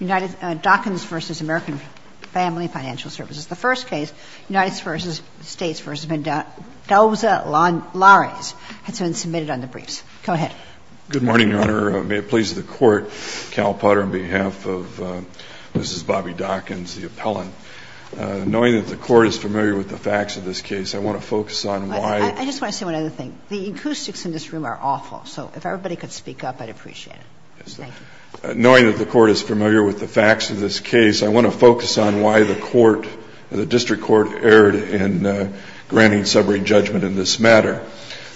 Dockins v. American Family Financial Services. The first case, United States v. Mendoza-Lawrence has been submitted on the briefs. Go ahead. Good morning, Your Honor. May it please the Court, Cal Potter, on behalf of Mrs. Bobbi Dockins, the appellant, knowing that the Court is familiar with the facts of this case, I want to focus on why— I just want to say one other thing. The acoustics in this room are awful, so if everybody could speak up, I'd appreciate it. Knowing that the Court is familiar with the facts of this case, I want to focus on why the District Court erred in granting summary judgment in this matter.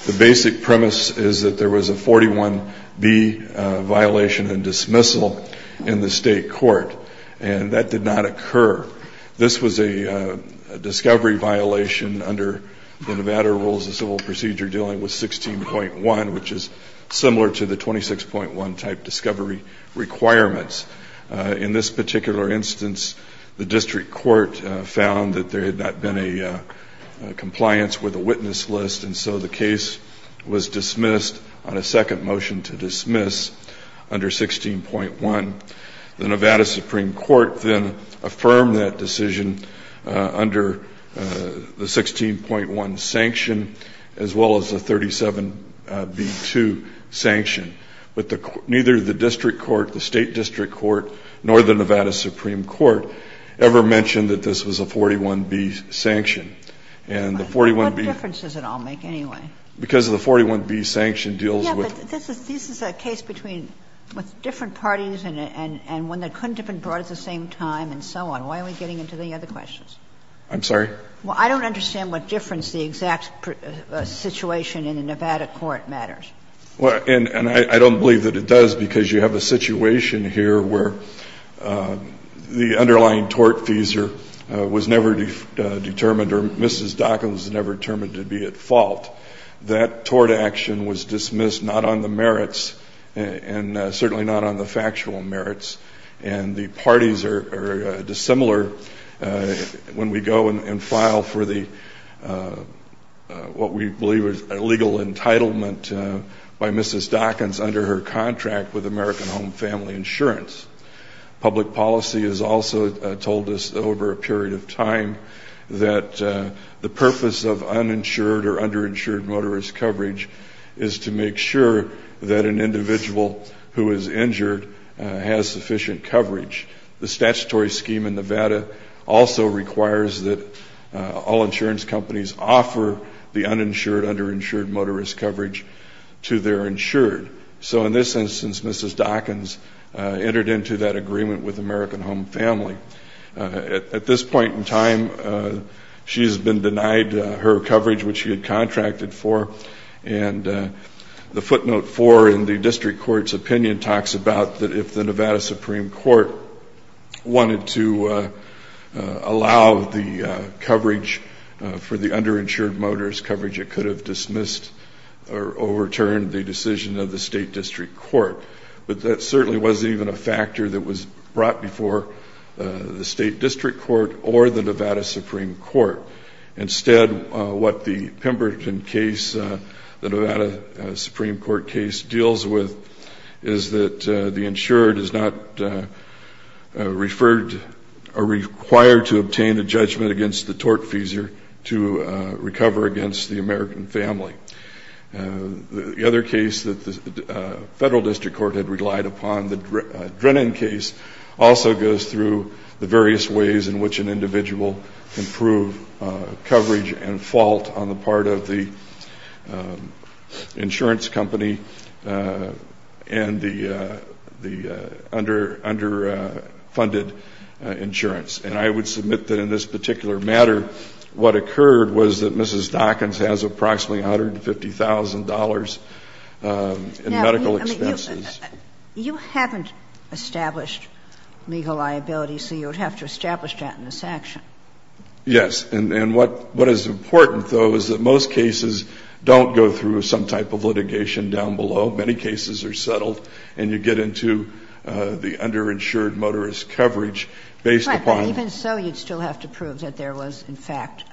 The basic premise is that there was a 41B violation and dismissal in the State Court, and that did not occur. This was a discovery violation under the Nevada Rules of Civil Procedure dealing with 16.1, which is similar to the 26.1 type discovery requirements. In this particular instance, the District Court found that there had not been a compliance with a witness list, and so the case was dismissed on a second motion to dismiss under 16.1. The Nevada Supreme Court then affirmed that decision under the 16.1 sanction, as well as the 37B2 sanction, but neither the District Court, the State District Court, nor the Nevada Supreme Court ever mentioned that this was a 41B sanction. And the 41B— Kagan. What difference does it all make anyway? Because the 41B sanction deals with— Yes, but this is a case between different parties and one that couldn't have been brought at the same time and so on. Why are we getting into the other questions? I'm sorry? Well, I don't understand what difference the exact situation in the Nevada court matters. Well, and I don't believe that it does, because you have a situation here where the underlying tort fees was never determined, or Mrs. Dockins was never determined to be at fault. That tort action was dismissed not on the merits and certainly not on the factual merits. And the parties are dissimilar when we go and file for the—what we believe is a legal entitlement by Mrs. Dockins under her contract with American Home Family Insurance. Public policy has also told us over a period of time that the purpose of uninsured or underinsured motorist coverage is to make sure that an individual who is injured has sufficient coverage. The statutory scheme in Nevada also requires that all insurance companies offer the uninsured, underinsured motorist coverage to their insured. So in this instance, Mrs. Dockins entered into that agreement with American Home Family. At this point in time, she has been denied her coverage, which she had contracted for. And the footnote four in the district court's opinion talks about that if the Nevada Supreme Court wanted to allow the coverage for the underinsured motorist coverage, it could have dismissed or overturned the decision of the state district court. But that certainly wasn't even a factor that was brought before the state district court or the Nevada Supreme Court. Instead, what the Pemberton case, the Nevada Supreme Court case, deals with is that the insured is not referred or required to obtain a judgment against the tortfeasor to recover against the American family. The other case that the federal district court had relied upon, the Drennan case, also goes through the various ways in which an individual can prove coverage and fault on the part of the insurance company and the underfunded insurance. And I would submit that in this particular matter, what occurred was that Mrs. Dockins has approximately $150,000 in medical expenses. You haven't established legal liability. So you would have to establish that in this action. Yes. And what is important, though, is that most cases don't go through some type of litigation down below. Many cases are settled and you get into the underinsured motorist coverage based upon the __________. Right. But even so, you'd still have to prove that there was, in fact,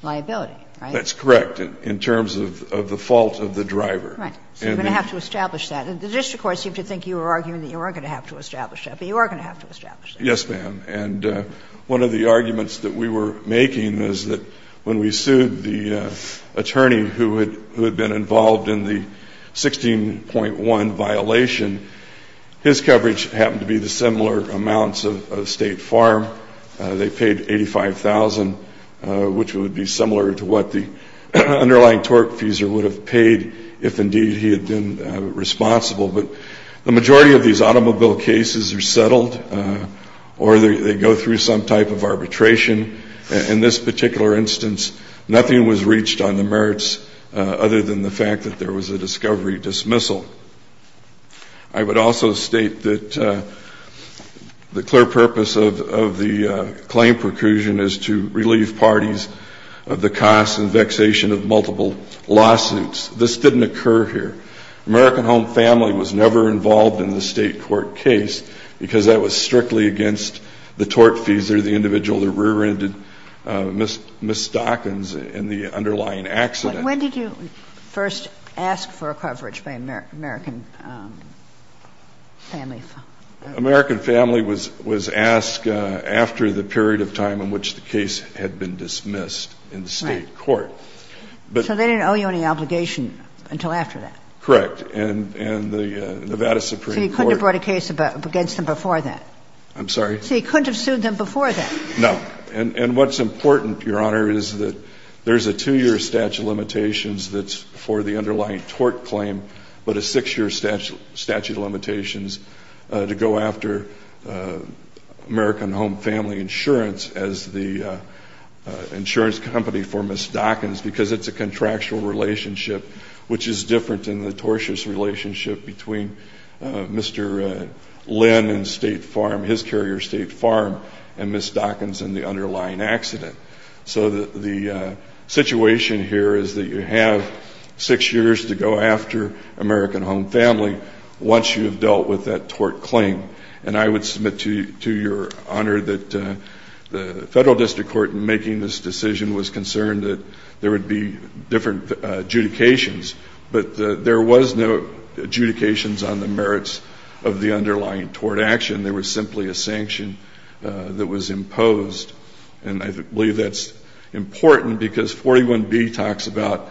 liability. Right? That's correct, in terms of the fault of the driver. Right. So you're going to have to establish that. And the district court seemed to think you were arguing that you weren't going to have to establish that. But you are going to have to establish that. Yes, ma'am. And one of the arguments that we were making is that when we sued the attorney who had been involved in the 16.1 violation, his coverage happened to be the similar amounts of State Farm. They paid $85,000, which would be similar to what the underlying torque fuser would have paid if, indeed, he had been responsible. But the majority of these automobile cases are settled or they go through some type of arbitration. In this particular instance, nothing was reached on the merits other than the fact that there was a discovery dismissal. I would also state that the clear purpose of the claim preclusion is to relieve parties of the cost and vexation of multiple lawsuits. This didn't occur here. American Home Family was never involved in the State court case because that was strictly against the torque fuser, the individual that rear-ended Ms. Stockins in the underlying accident. But when did you first ask for coverage by American Family? American Family was asked after the period of time in which the case had been dismissed in the State court. Right. So they didn't owe you any obligation until after that? Correct. And the Nevada Supreme Court... So you couldn't have brought a case against them before that? I'm sorry? So you couldn't have sued them before that? No. And what's important, Your Honor, is that there's a two-year statute of limitations that's for the underlying torque claim, but a six-year statute of limitations to go after American Home Family Insurance as the insurance company for Ms. Stockins because it's a contractual relationship, which is different in the tortious relationship between Mr. Lynn and State Farm, his carrier, State Farm, and Ms. Stockins in the underlying accident. So the situation here is that you have six years to go after American Home Family once you have dealt with that torque claim. And I would submit to your honor that the federal district court in making this decision was concerned that there would be different adjudications, but there was no adjudications on the merits of the underlying tort action. There was simply a sanction that was imposed. And I believe that's important because 41B talks about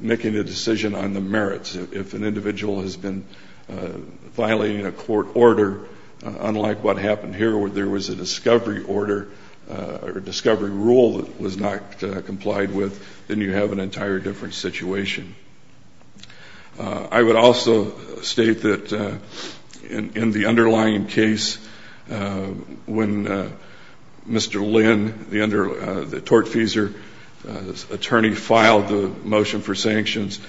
making a decision on the merits. If an individual has been violating a court order, unlike what happened here, where there was a discovery order or discovery rule that was not complied with, then you have an entire different situation. I would also state that in the underlying case, when Mr. Lynn, the tortfeasor's attorney, filed the motion for sanctions,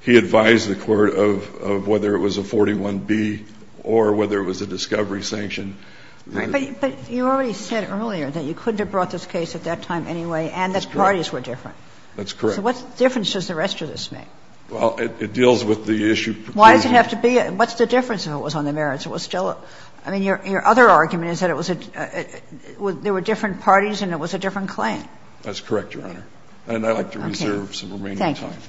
he advised the court of whether it was a 41B or whether it was a discovery sanction. But you already said earlier that you couldn't have brought this case at that time anyway and that parties were different. That's correct. So what difference does the rest of this make? Well, it deals with the issue of provision. Why does it have to be a – what's the difference if it was on the merits? It was still a – I mean, your other argument is that it was a – there were different parties and it was a different claim. That's correct, Your Honor. And I'd like to reserve some remaining time. Thank you.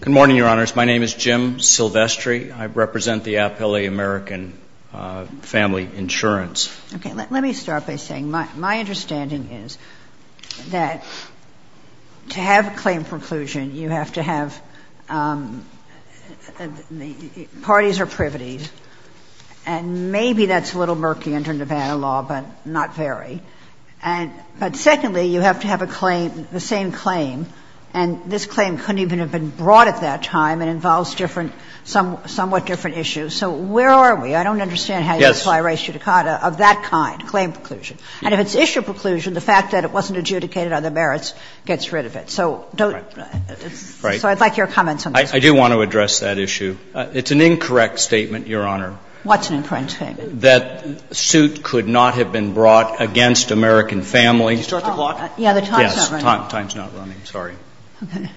Good morning, Your Honors. My name is Jim Silvestri. I represent the Appellee American Family Insurance. Okay. Let me start by saying my understanding is that to have a claim preclusion, you have to have parties or privities, and maybe that's a little murky under Nevada law, but not very. And – but secondly, you have to have a claim, the same claim, and this claim couldn't even have been brought at that time and involves different – somewhat different issues. So where are we? I don't understand how you would fly a res judicata of that kind, claim preclusion. And if it's issue preclusion, the fact that it wasn't adjudicated on the merits gets rid of it. So don't – so I'd like your comments on this. I do want to address that issue. It's an incorrect statement, Your Honor. What's an incorrect statement? That suit could not have been brought against American families. Did you start the clock? Yeah, the time's not running. Yes, time's not running. Sorry. Okay.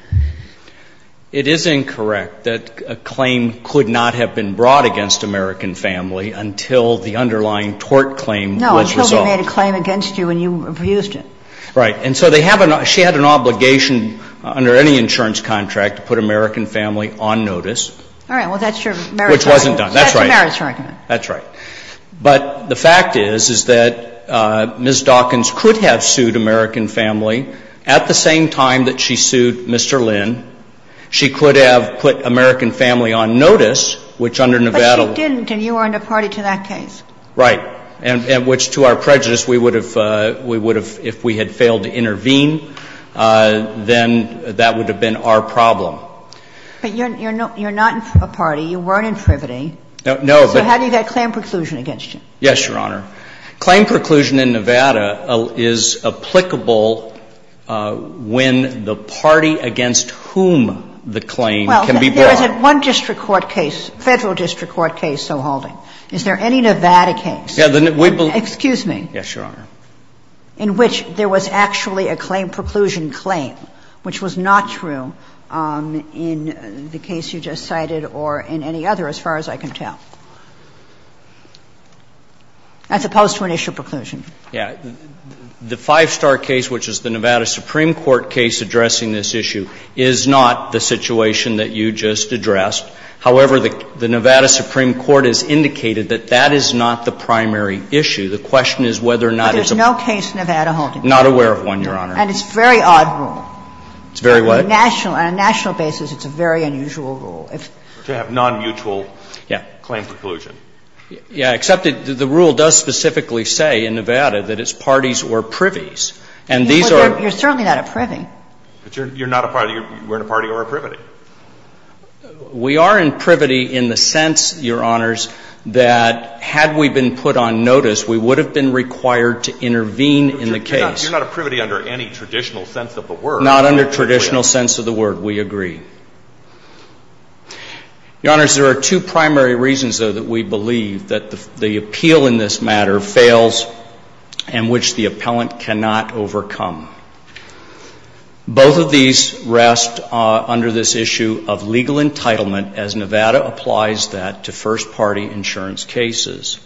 It is incorrect that a claim could not have been brought against American family until the underlying tort claim was resolved. No, until they made a claim against you and you abused it. Right. And so they have a – she had an obligation under any insurance contract to put American family on notice. All right. Well, that's your merits argument. Which wasn't done. That's right. That's a merits argument. That's right. But the fact is, is that Ms. Dawkins could have sued American family at the same time that she sued Mr. Lynn. She could have put American family on notice, which under Nevada – But she didn't, and you weren't a party to that case. Right. And which to our prejudice, we would have – we would have – if we had failed to intervene, then that would have been our problem. But you're not a party. You weren't in privity. No, but – So how do you get claim preclusion against you? Yes, Your Honor. Claim preclusion in Nevada is applicable when the party against whom the claim can be brought. Well, there is one district court case, Federal District Court case, so, Halding. Is there any Nevada case – Yeah, the – we believe – Excuse me. Yes, Your Honor. In which there was actually a claim preclusion claim, which was not true in the case you just cited or in any other, as far as I can tell. As opposed to an issue of preclusion. Yeah. The Five Star case, which is the Nevada Supreme Court case addressing this issue, is not the situation that you just addressed. However, the Nevada Supreme Court has indicated that that is not the primary issue. The question is whether or not it's a – But there's no case Nevada-Halding. Not aware of one, Your Honor. And it's a very odd rule. It's very what? On a national basis, it's a very unusual rule. To have non-mutual claim preclusion. Yeah. Yeah, except the rule does specifically say in Nevada that it's parties or privies. And these are – You're certainly not a privy. But you're not a party. You're in a party or a privity. We are in privity in the sense, Your Honors, that had we been put on notice, we would have been required to intervene in the case. You're not a privity under any traditional sense of the word. Not under traditional sense of the word. We agree. Your Honors, there are two primary reasons, though, that we believe that the appeal in this matter fails and which the appellant cannot overcome. Both of these rest under this issue of legal entitlement as Nevada applies that to first-party insurance cases.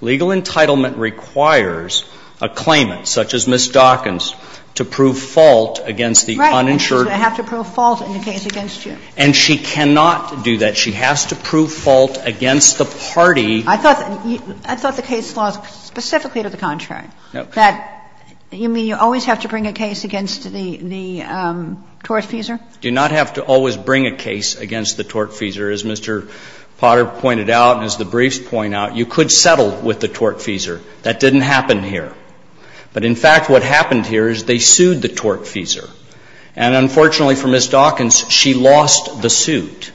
Legal entitlement requires a claimant, such as Ms. Dawkins, to prove fault against the uninsured – Do I have to prove fault in the case against you? And she cannot do that. She has to prove fault against the party. I thought the case was specifically to the contrary. No. That you mean you always have to bring a case against the tortfeasor? You do not have to always bring a case against the tortfeasor. As Mr. Potter pointed out and as the briefs point out, you could settle with the tortfeasor. That didn't happen here. But in fact, what happened here is they sued the tortfeasor. And unfortunately for Ms. Dawkins, she lost the suit.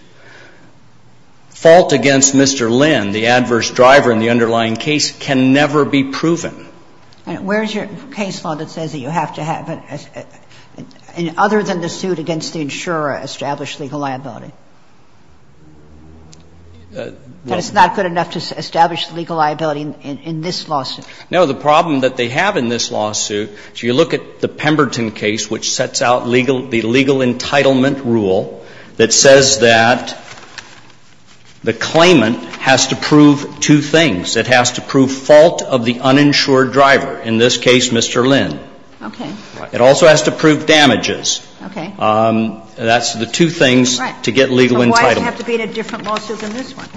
Fault against Mr. Lynn, the adverse driver in the underlying case, can never be proven. Where is your case law that says that you have to have, other than the suit against the insurer, established legal liability? That it's not good enough to establish the legal liability in this lawsuit? No. The problem that they have in this lawsuit, if you look at the Pemberton case, which sets out the legal entitlement rule that says that the claimant has to prove two things. It has to prove fault of the uninsured driver, in this case Mr. Lynn. Okay. It also has to prove damages. Okay. That's the two things to get legal entitlement. So why does it have to be a different lawsuit than this one?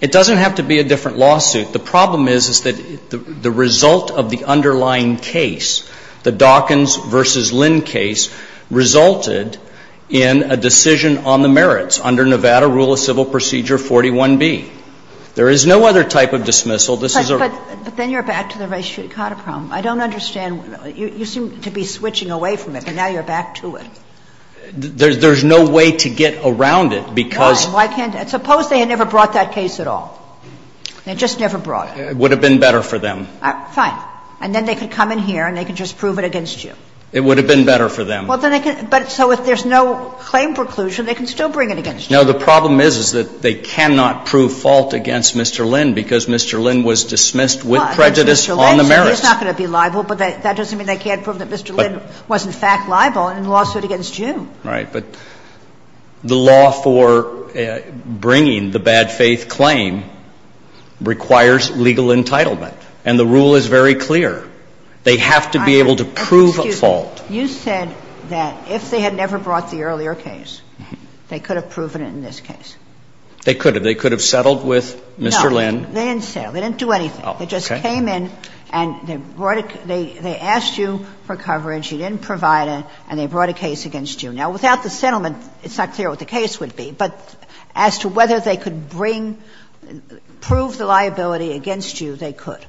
It doesn't have to be a different lawsuit. The problem is, is that the result of the underlying case, the Dawkins v. Lynn case, resulted in a decision on the merits under Nevada Rule of Civil Procedure 41b. There is no other type of dismissal. This is a rule. But then you're back to the Rice v. Cotter problem. I don't understand. You seem to be switching away from it, but now you're back to it. There's no way to get around it because why can't I? Suppose they had never brought that case at all. They just never brought it. It would have been better for them. Fine. And then they could come in here and they could just prove it against you. It would have been better for them. Well, then they could — but so if there's no claim preclusion, they can still bring it against you. No, the problem is, is that they cannot prove fault against Mr. Lynn because Mr. Lynn was dismissed with prejudice on the merits. Well, Mr. Lynn is not going to be liable, but that doesn't mean they can't prove that Mr. Lynn was, in fact, liable in the lawsuit against you. Well, that's the problem, right? But the law for bringing the bad faith claim requires legal entitlement. And the rule is very clear. They have to be able to prove a fault. You said that if they had never brought the earlier case, they could have proven it in this case. They could have. They could have settled with Mr. Lynn. No, they didn't settle. They didn't do anything. Oh, okay. They just came in and they brought a — they asked you for coverage. You didn't provide it, and they brought a case against you. Now, without the settlement, it's not clear what the case would be. But as to whether they could bring — prove the liability against you, they could.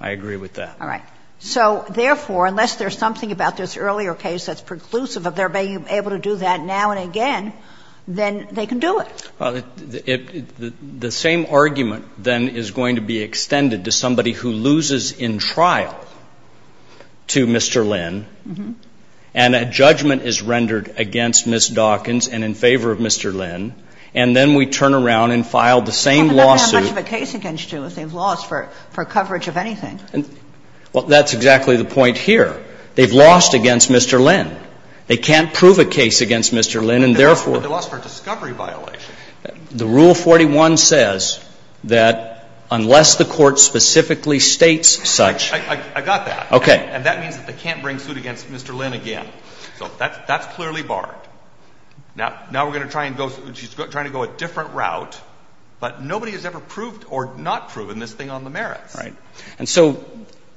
I agree with that. All right. So, therefore, unless there's something about this earlier case that's preclusive of their being able to do that now and again, then they can do it. Well, the same argument, then, is going to be extended to somebody who loses in trial to Mr. Lynn, and a judgment is rendered against Ms. Dawkins and in favor of Mr. Lynn, and then we turn around and file the same lawsuit. But they don't have much of a case against you if they've lost for coverage of anything. Well, that's exactly the point here. They've lost against Mr. Lynn. They can't prove a case against Mr. Lynn, and, therefore — But they lost for a discovery violation. The Rule 41 says that unless the Court specifically states such — I got that. Okay. And that means that they can't bring suit against Mr. Lynn again. So that's clearly barred. Now we're going to try and go — she's trying to go a different route, but nobody has ever proved or not proven this thing on the merits. Right. And so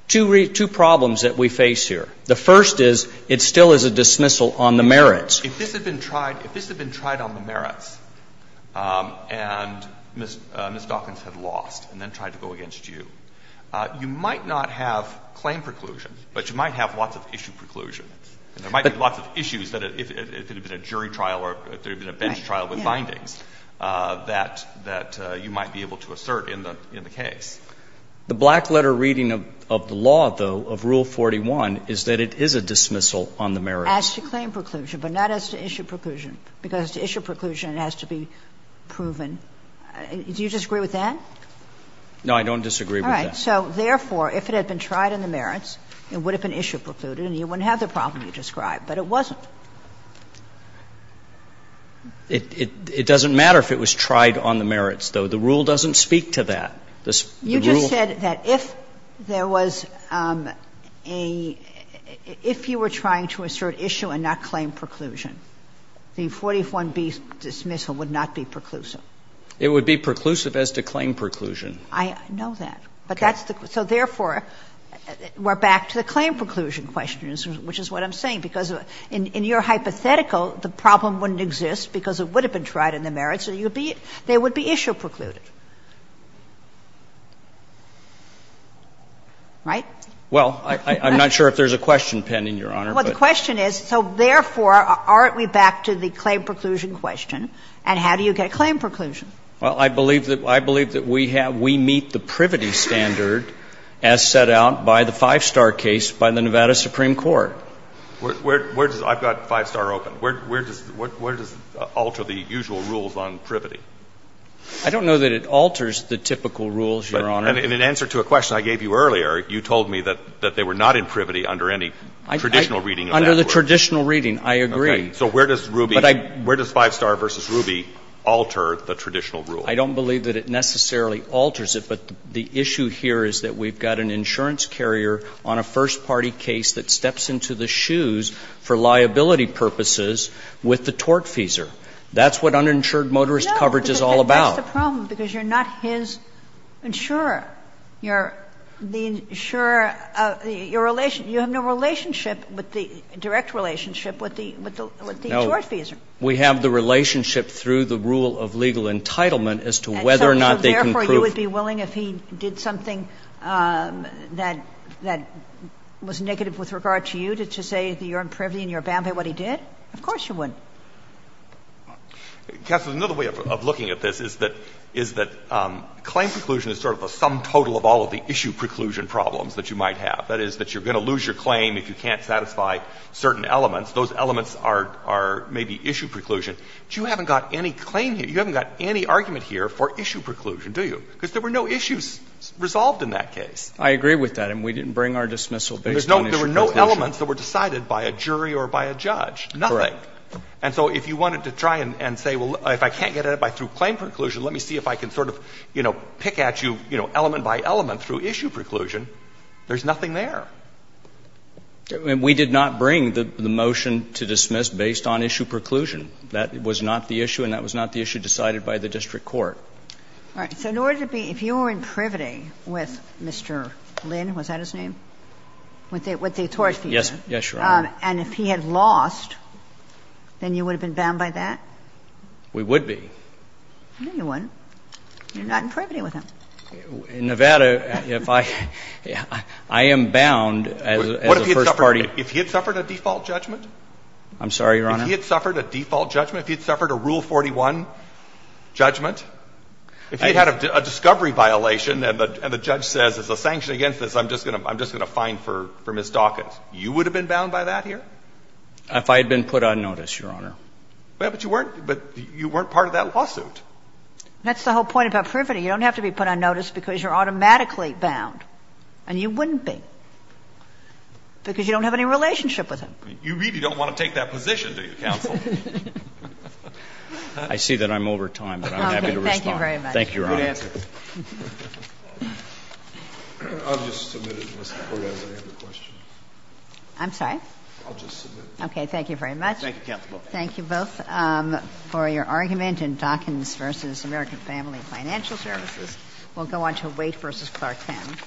two problems that we face here. The first is it still is a dismissal on the merits. If this had been tried — if this had been tried on the merits and Ms. Dawkins had lost and then tried to go against you, you might not have claim preclusion, but you might have lots of issue preclusion. There might be lots of issues that if it had been a jury trial or if there had been a bench trial with findings that you might be able to assert in the case. The black-letter reading of the law, though, of Rule 41, is that it is a dismissal on the merits. As to claim preclusion, but not as to issue preclusion, because to issue preclusion it has to be proven. Do you disagree with that? No, I don't disagree with that. All right. So therefore, if it had been tried on the merits, it would have been issue precluded and you wouldn't have the problem you described. But it wasn't. It doesn't matter if it was tried on the merits, though. The rule doesn't speak to that. The rule — You just said that if there was a — if you were trying to assert issue and not claim preclusion, the 41B dismissal would not be preclusive. It would be preclusive as to claim preclusion. I know that. But that's the — so therefore, we're back to the claim preclusion question, which is what I'm saying, because in your hypothetical, the problem wouldn't exist because it would have been tried on the merits, so you would be — they would be issue precluded. Right? Well, I'm not sure if there's a question pending, Your Honor, but — Well, the question is, so therefore, aren't we back to the claim preclusion question, and how do you get claim preclusion? Well, I believe that — I believe that we have — we meet the privity standard as set out by the Five Star case by the Nevada Supreme Court. Where does — I've got Five Star open. Where does — where does it alter the usual rules on privity? I don't know that it alters the typical rules, Your Honor. But in answer to a question I gave you earlier, you told me that they were not in privity under any traditional reading of that rule. Under the traditional reading, I agree. So where does Ruby — where does Five Star v. Ruby alter the traditional rule? I don't believe that it necessarily alters it, but the issue here is that we've got an insurance carrier on a first-party case that steps into the shoes for liability purposes with the tortfeasor. That's what uninsured motorist coverage is all about. No, but that's the problem, because you're not his insurer. You're the insurer of the — your — you have no relationship with the — direct relationship with the — with the tortfeasor. No. We have the relationship through the rule of legal entitlement as to whether or not they can prove — And so therefore, you would be willing, if he did something that — that was negative with regard to you, to say that you're in privity and you're bound by what he did? Of course you wouldn't. Counsel, another way of looking at this is that — is that claim preclusion is sort of a sum total of all of the issue preclusion problems that you might have. That is, that you're going to lose your claim if you can't satisfy certain elements. Those elements are — are maybe issue preclusion. But you haven't got any claim here. You haven't got any argument here for issue preclusion, do you? Because there were no issues resolved in that case. I agree with that, and we didn't bring our dismissal based on issue preclusion. There were no elements that were decided by a jury or by a judge, nothing. Correct. And so if you wanted to try and — and say, well, if I can't get at it by — through claim preclusion, let me see if I can sort of, you know, pick at you, you know, element by element through issue preclusion, there's nothing there. And we did not bring the motion to dismiss based on issue preclusion. That was not the issue, and that was not the issue decided by the district court. All right. So in order to be — if you were in privity with Mr. Lynn, was that his name? With the — with the tort feature. Yes. Yes, Your Honor. And if he had lost, then you would have been bound by that? We would be. No, you wouldn't. You're not in privity with him. In Nevada, if I — I am bound as a First Party — What if he had suffered — if he had suffered a default judgment? I'm sorry, Your Honor. If he had suffered a default judgment, if he had suffered a Rule 41 judgment, if he had had a discovery violation and the judge says it's a sanction against this, I'm just going to — I'm just going to fine for — for misdocus, you would have been bound by that here? If I had been put on notice, Your Honor. But you weren't — but you weren't part of that lawsuit. That's the whole point about privity. You don't have to be put on notice because you're automatically bound. And you wouldn't be because you don't have any relationship with him. You really don't want to take that position, do you, counsel? I see that I'm over time, but I'm happy to respond. Thank you, Your Honor. I'll just submit it, Mr. Correia, as I have your question. I'm sorry? I'll just submit it. Okay. Thank you very much. Thank you, counsel. Thank you both for your argument in Dawkins v. American Family Financial Services. We'll go on to Waite v. Clark Penn.